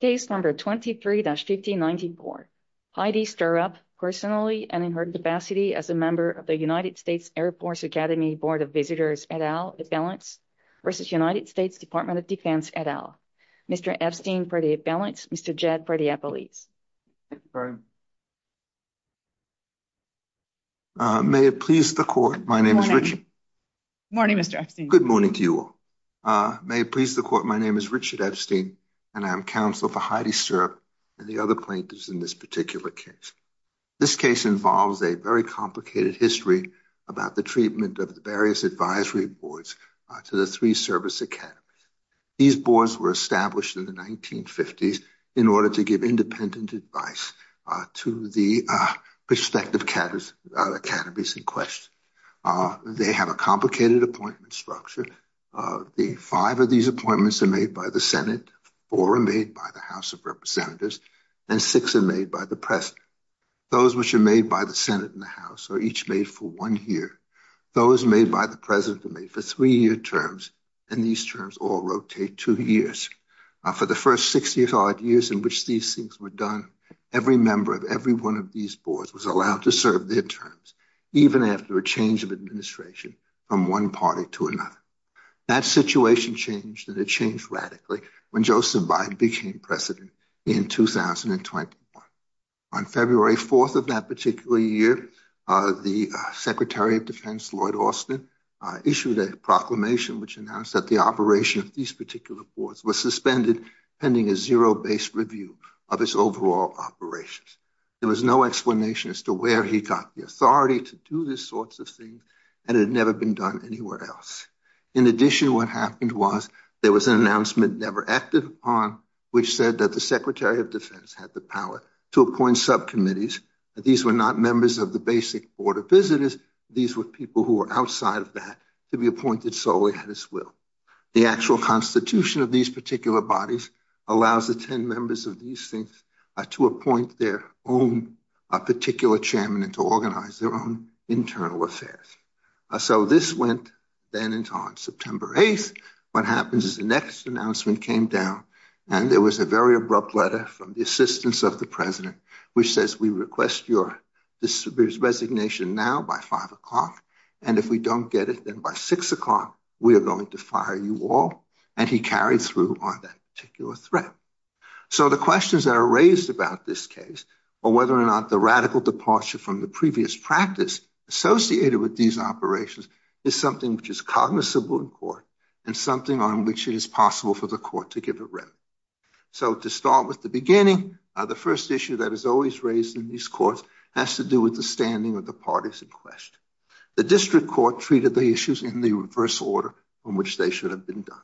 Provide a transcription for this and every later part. Case number 23-1594. Heidi Stirrup personally and in her capacity as a member of the United States Air Force Academy Board of Visitors, et al., balance versus United States Department of Defense, et al. Mr. Epstein for the balance, Mr. Jed for the appellees. May it please the court, my name is Richard. Good morning, Mr. Epstein. Good morning to you all. May it please the court, my name is Richard Epstein and I'm counsel for Heidi Stirrup and the other plaintiffs in this particular case. This case involves a very complicated history about the treatment of the various advisory boards to the three service academies. These boards were established in the 1950s in order to give independent advice to the prospective academies in question. They have a complicated appointment structure. The five of these appointments are made by the Senate, four are made by the House of Representatives, and six are made by the President. Those which are made by the Senate and the House are each made for one year. Those made by the President are made for three-year terms, and these terms all rotate two years. For the first 60-odd years in which these things were done, every member of every one of these boards was allowed to serve their terms, even after a change of administration from one party to another. That situation changed, and it changed radically when Joseph Biden became President in 2021. On February 4th of that particular year, the Secretary of Defense, Lloyd Austin, issued a proclamation which announced that operation of these particular boards was suspended, pending a zero-based review of its overall operations. There was no explanation as to where he got the authority to do these sorts of things, and it had never been done anywhere else. In addition, what happened was there was an announcement never acted upon, which said that the Secretary of Defense had the power to appoint subcommittees. These were not members of the basic Board of Visitors, these were people who were outside of that, to be appointed solely at his will. The actual constitution of these particular bodies allows the 10 members of these things to appoint their own particular chairman and to organize their own internal affairs. So this went then into on September 8th. What happens is the next announcement came down, and there was a very abrupt letter from the assistance of the President, which says, we request your resignation now by 5 o'clock, and if we don't get it then by 6 o'clock, we are going to fire you all. And he carried through on that particular threat. So the questions that are raised about this case, or whether or not the radical departure from the previous practice associated with these operations is something which is cognizable in court, and something on which it is possible for the court to give a remedy. So to start with the beginning, the first issue that is always raised in these courts has to do with the standing of the parties in question. The district court treated the issues in the reverse order in which they should have been done.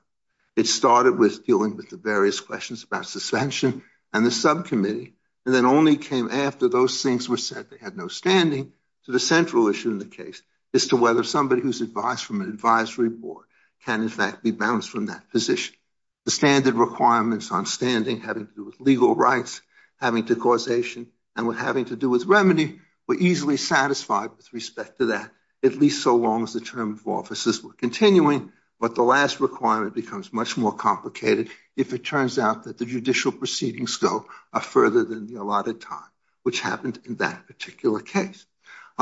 It started with dealing with the various questions about suspension and the subcommittee, and then only came after those things were said. They had no standing. So the central issue in the case is to whether somebody who's advised from an advisory board can in fact be bounced from that position. The standard requirements on standing having to do with legal rights, having to causation, and having to do with remedy were easily satisfied with respect to that, at least so long as the term of offices were continuing. But the last requirement becomes much more complicated if it turns out that the judicial proceedings go further than the allotted time, which happened in that particular case.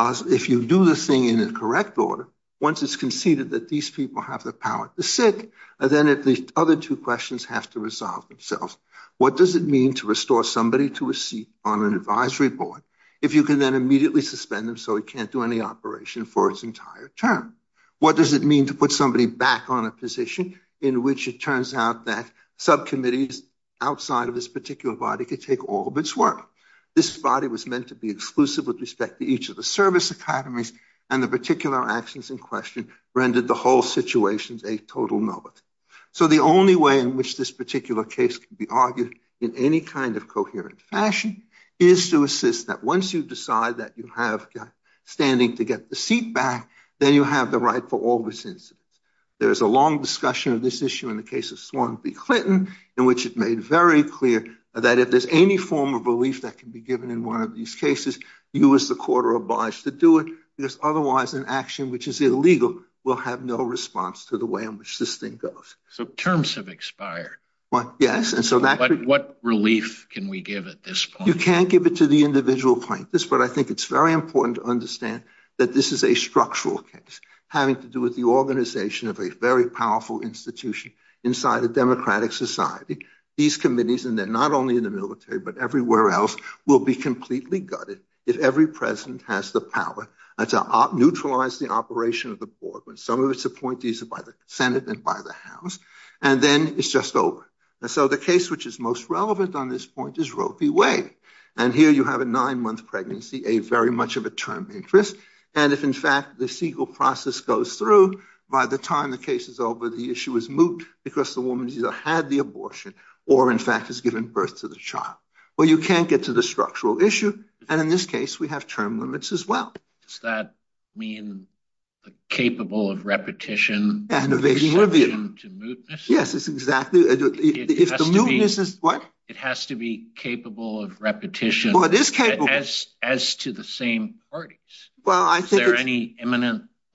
If you do this thing in a correct order, once it's conceded that these people have the power to sit, then at least other two questions have to resolve themselves. What does it mean to restore somebody to a seat on an advisory board if you can then immediately suspend them so it can't do any operation for its entire term? What does it mean to put somebody back on a position in which it turns out that subcommittees outside of this particular body could take all of its work? This body was meant to be exclusive with respect to each of the service academies, and the particular actions in question rendered the whole situation a total novice. So the only way in which this particular case can be argued in any kind of coherent fashion is to assist that once you decide that you have standing to get the seat back, then you have the right for all these incidents. There is a long discussion of this issue in the case of Swan v. Clinton, in which it made very clear that if there's any form of relief that can be given in one of these cases, you as the court are obliged to do it, because otherwise an action which is illegal will have no response to the way in which this thing goes. So terms have expired. Yes. What relief can we give at this point? You can't give it to the individual plaintiffs, but I think it's very important to understand that this is a structural case having to do with the organization of a very powerful institution inside a democratic society. These committees, and they're not only in the military but everywhere else, will be completely gutted if every president has the power to neutralize the operation of the board when some of its appointees are by the Senate and by the House. And then it's just over. So the case which is most relevant on this point is Roe v. Wade. And here you have a nine-month pregnancy, a very much of a term interest. And if, in fact, the Segal process goes through, by the time the case is over, the issue is moot because the woman either had the abortion or, in fact, has given birth to the child. Well, you can't get to the structural issue. And in this case, we have term limits as well. Does that mean the capable of repetition? And evading review. To mootness? Yes, it's exactly. If the mootness is... What? It has to be capable of repetition. Well, it is capable. As to the same parties. Well, I think it's...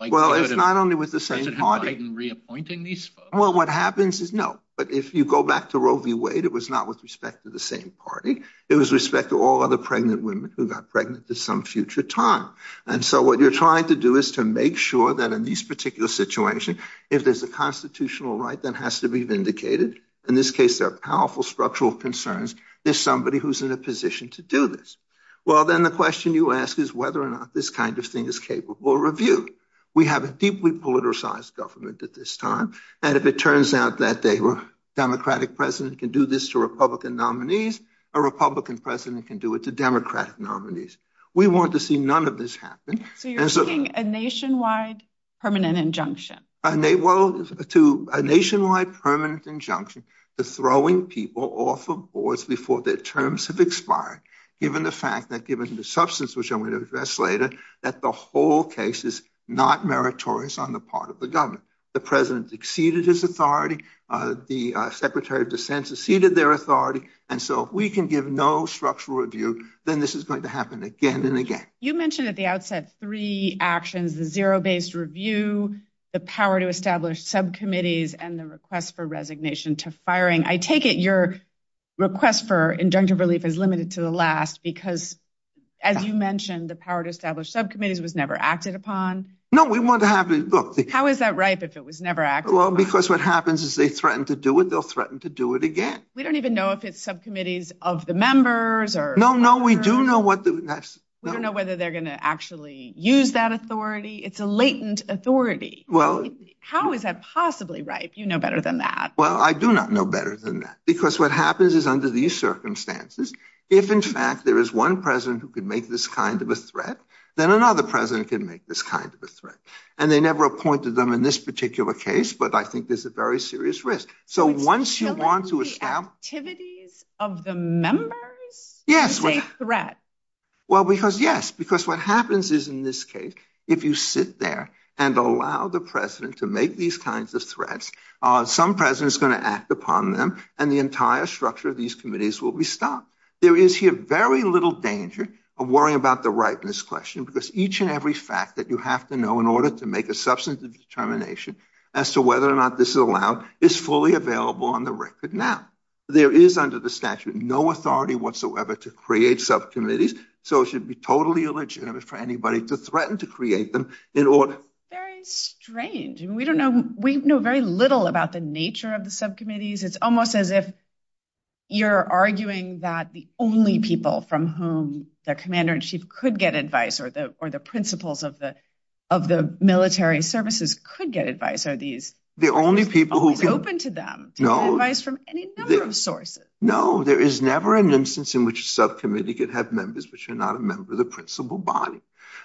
Is it implied in reappointing these folks? Well, what happens is, no. But if you go back to Roe v. Wade, it was not with respect to the same party. It was respect to all other pregnant women who got pregnant at some future time. And so what you're trying to do is to make sure that in this particular situation, if there's a constitutional right that has to be vindicated, in this case, there are powerful structural concerns, there's somebody who's in a position to do this. Well, then the question you ask is whether or not this kind of thing is capable of review. We have a deeply politicized government at this time. And if it turns out that a Democratic president can do this to Republican nominees, a Republican president can do it to Democratic nominees. We want to see none of this happen. So you're seeking a nationwide permanent injunction? A nationwide permanent injunction to throwing people off of boards before their terms have expired, given the fact that, given the substance, which I'm going to address later, that the whole case is not meritorious on the part of the government. The president exceeded his authority. The secretary of dissent exceeded their authority. And so if we can give no structural review, then this is going to happen again and again. You mentioned at the outset three actions, the zero-based review, the power to establish subcommittees, and the request for resignation to firing. I take it your request for injunctive relief is limited to the last because, as you mentioned, the power to establish subcommittees was never acted upon? No, we want to have... Look, how is that ripe if it was never acted upon? Well, because what happens is they threaten to do it, they'll threaten to do it again. We don't even know if it's subcommittees of the members or... No, no, we do know what the... We don't know whether they're going to actually use that authority. It's a latent authority. Well... How is that possibly ripe? You know better than that. Well, I do not know better than that. Because what happens is under these circumstances, if in fact there is one president who could make this kind of a threat, then another president can make this kind of a threat. And they never appointed them in this particular case, but I think there's a very serious risk. So once you want to establish... But still in the activities of the members? Yes. It's a threat. Well, because yes. Because what happens is in this case, if you sit there and allow the president is going to act upon them and the entire structure of these committees will be stopped. There is here very little danger of worrying about the rightness question, because each and every fact that you have to know in order to make a substantive determination as to whether or not this is allowed is fully available on the record now. There is under the statute, no authority whatsoever to create subcommittees. So it should be totally illegitimate for anybody to threaten to create them in order... We know very little about the nature of the subcommittees. It's almost as if you're arguing that the only people from whom the commander-in-chief could get advice or the principals of the military services could get advice are these... The only people who... ...who are open to them to get advice from any number of sources. No, there is never an instance in which a subcommittee could have members which are not a member of the principal body.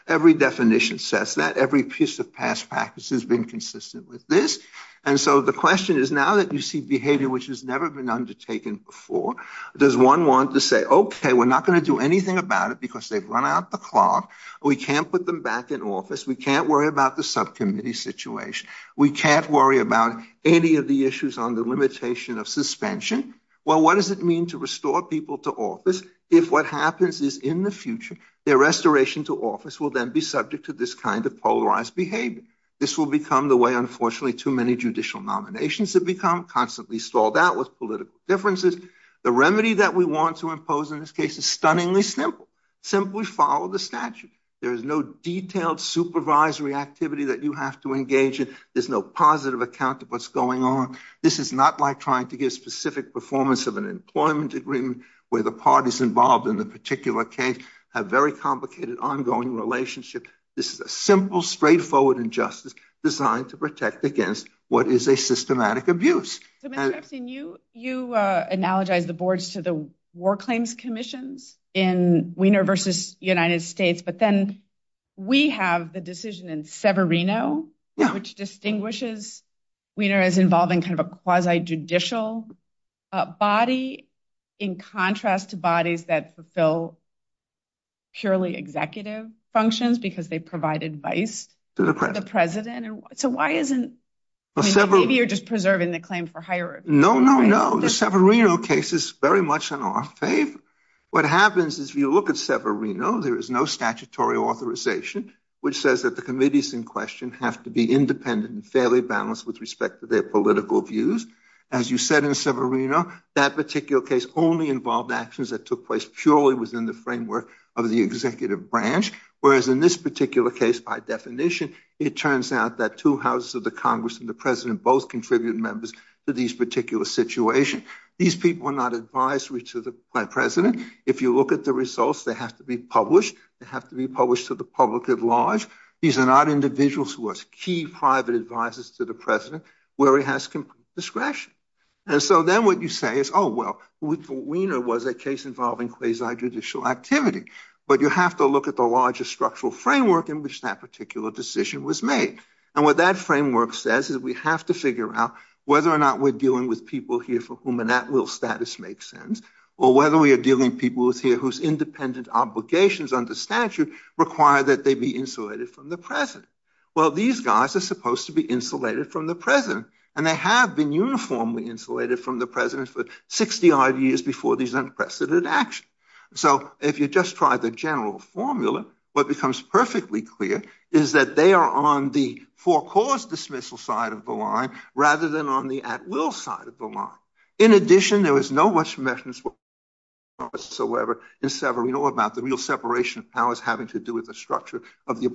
Every definition says that. Every piece of past has been consistent with this. And so the question is now that you see behavior which has never been undertaken before, does one want to say, okay, we're not going to do anything about it because they've run out the clock. We can't put them back in office. We can't worry about the subcommittee situation. We can't worry about any of the issues on the limitation of suspension. Well, what does it mean to restore people to office if what happens is in the future, their restoration to office will then be subject to this kind of polarized behavior? This will become the way, unfortunately, too many judicial nominations have become, constantly stalled out with political differences. The remedy that we want to impose in this case is stunningly simple. Simply follow the statute. There is no detailed supervisory activity that you have to engage in. There's no positive account of what's going on. This is not like trying to give specific performance of an employment agreement where the parties involved in the particular case have very complicated ongoing relationship. This is a simple, straightforward injustice designed to protect against what is a systematic abuse. So, Mr. Epstein, you analogize the boards to the war claims commissions in Wiener versus United States, but then we have the decision in Severino, which distinguishes Wiener as involving kind of a quasi-judicial body in contrast to bodies that fulfill purely executive functions because they provide advice to the president. So, why isn't maybe you're just preserving the claim for hierarchy? No, no, no. The Severino case is very much in our favor. What happens is if you look at Severino, there is no statutory authorization, which says that the committees in question have to be independent and fairly balanced with respect to their political views. As you said in Severino, that particular case only involved actions that of the executive branch, whereas in this particular case, by definition, it turns out that two houses of the Congress and the president both contribute members to these particular situation. These people are not advisory to the president. If you look at the results, they have to be published. They have to be published to the public at large. These are not individuals who are key private advisors to the president where he has complete discretion. And so then what you say is, oh, well, Wiener was a case involving quasi-judicial activity, but you have to look at the larger structural framework in which that particular decision was made. And what that framework says is we have to figure out whether or not we're dealing with people here for whom an at-will status makes sense or whether we are dealing with people here whose independent obligations under statute require that they be insulated from the president. Well, these guys are supposed to be insulated from the president, and they have been uniformly insulated from the president for 65 years before these unprecedented actions. So if you just try the general formula, what becomes perfectly clear is that they are on the for-cause dismissal side of the line rather than on the at-will side of the line. In addition, there was no much mention whatsoever in Severino about the real separation of powers having to do with the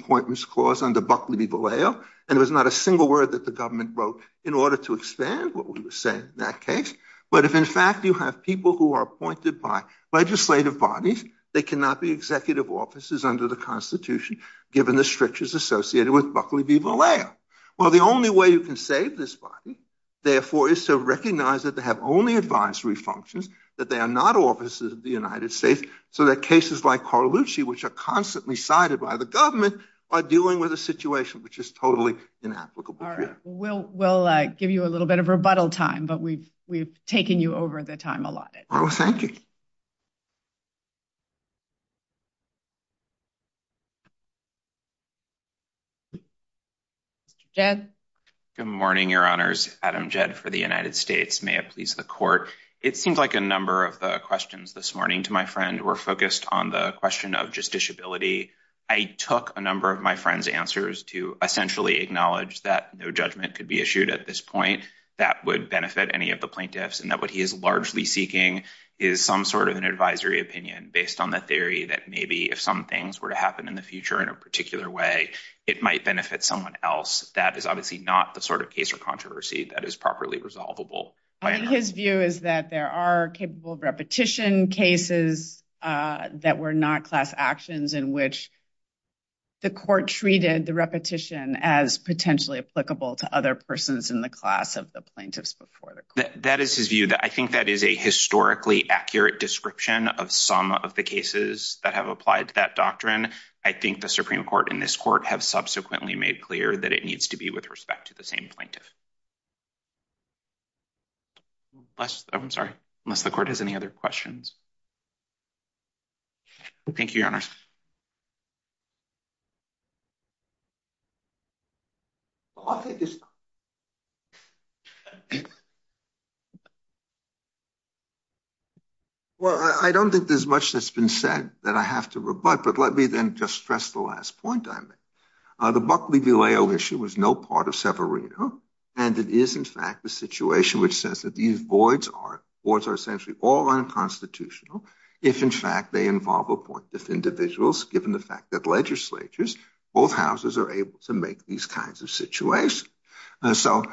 Buckley v. Vallejo, and there was not a single word that the government wrote in order to expand what we were saying in that case. But if, in fact, you have people who are appointed by legislative bodies, they cannot be executive officers under the Constitution given the strictures associated with Buckley v. Vallejo. Well, the only way you can save this body, therefore, is to recognize that they have only advisory functions, that they are not officers of the United States, so that cases like Carlucci, which are constantly sided by the government, are dealing with a situation which is totally inapplicable here. All right. We'll give you a little bit of rebuttal time, but we've taken you over the time allotted. Oh, thank you. Jed? Good morning, Your Honors. Adam Jed for the United States. May it please the Court. It seems like a number of the questions this morning, to my friend, were focused on the answers to essentially acknowledge that no judgment could be issued at this point that would benefit any of the plaintiffs, and that what he is largely seeking is some sort of an advisory opinion based on the theory that maybe if some things were to happen in the future in a particular way, it might benefit someone else. That is obviously not the sort of case or controversy that is properly resolvable. I think his view is that there are capable court treated the repetition as potentially applicable to other persons in the class of the plaintiffs before the court. That is his view. I think that is a historically accurate description of some of the cases that have applied to that doctrine. I think the Supreme Court and this court have subsequently made clear that it needs to be with respect to the same plaintiff. I'm sorry. Unless the court has any other questions. Thank you, Your Honor. Well, I don't think there's much that's been said that I have to rebut, but let me then just stress the last point I made. The Buckley-Villejo issue is no part of Severino, and it is in fact a situation which says that these voids are essentially all unconstitutional. If in fact they involve appointive individuals, given the fact that legislatures, both houses are able to make these kinds of situations. So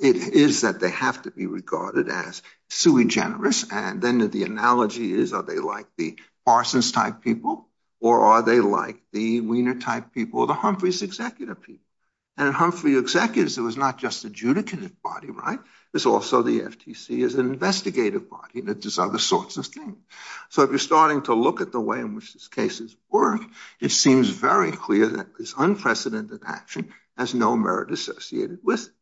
it is that they have to be regarded as sui generis. And then the analogy is, are they like the Parsons type people, or are they like the Wiener type people, or the Humphreys executive people? And the Humphreys executives, it was not just the Judicant body, right? It's also the FTC as an investigative body, and it does other sorts of things. So if you're starting to look at the way in which these cases work, it seems very clear that this unprecedented action has no merit associated with it.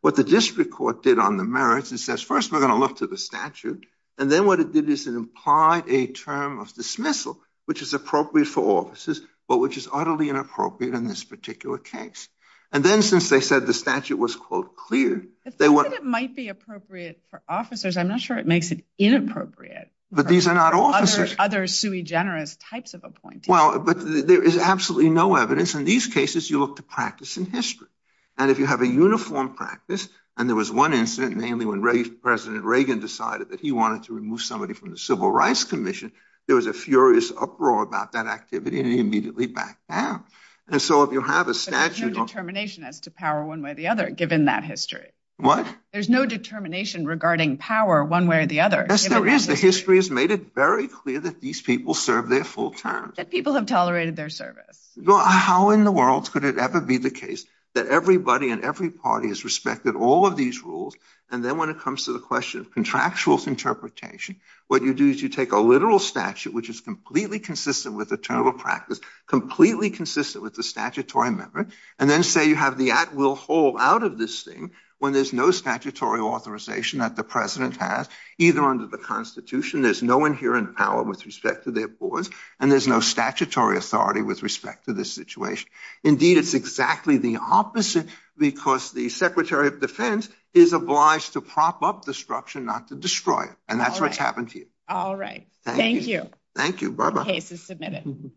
What the district court did on the merits, it says, first we're going to look to the statute. And then what it did is it implied a term of dismissal, which is appropriate for offices, but which is utterly inappropriate in this particular case. And then since they said the statute was, quote, clear, they were... The fact that it might be appropriate for officers, I'm not sure it makes it inappropriate. But these are not officers. Other sui generis types of appointees. Well, but there is absolutely no evidence. In these cases, you look to practice and history. And if you have a uniform practice, and there was one incident, mainly when President Reagan decided that he wanted to remove somebody from the Civil Rights Commission, there was a furious uproar about that activity, and he immediately backed down. And so if you have a statute... But there's no determination as to power one way or the other, given that history. What? There's no determination regarding power one way or the other. Yes, there is. The history has made it very clear that these people serve their full term. That people have tolerated their service. How in the world could it ever be the case that everybody and every party has respected all of these rules, and then when it comes to the question of contractual interpretation, what you do is you take a literal statute, which is completely consistent with the statutory memory, and then say you have the at-will hold out of this thing when there's no statutory authorization that the President has, either under the Constitution. There's no inherent power with respect to their boards, and there's no statutory authority with respect to this situation. Indeed, it's exactly the opposite, because the Secretary of Defense is obliged to prop up the structure, not to destroy it. And that's what's happened to you. All right. Thank you. Thank you, Barbara. Case is submitted.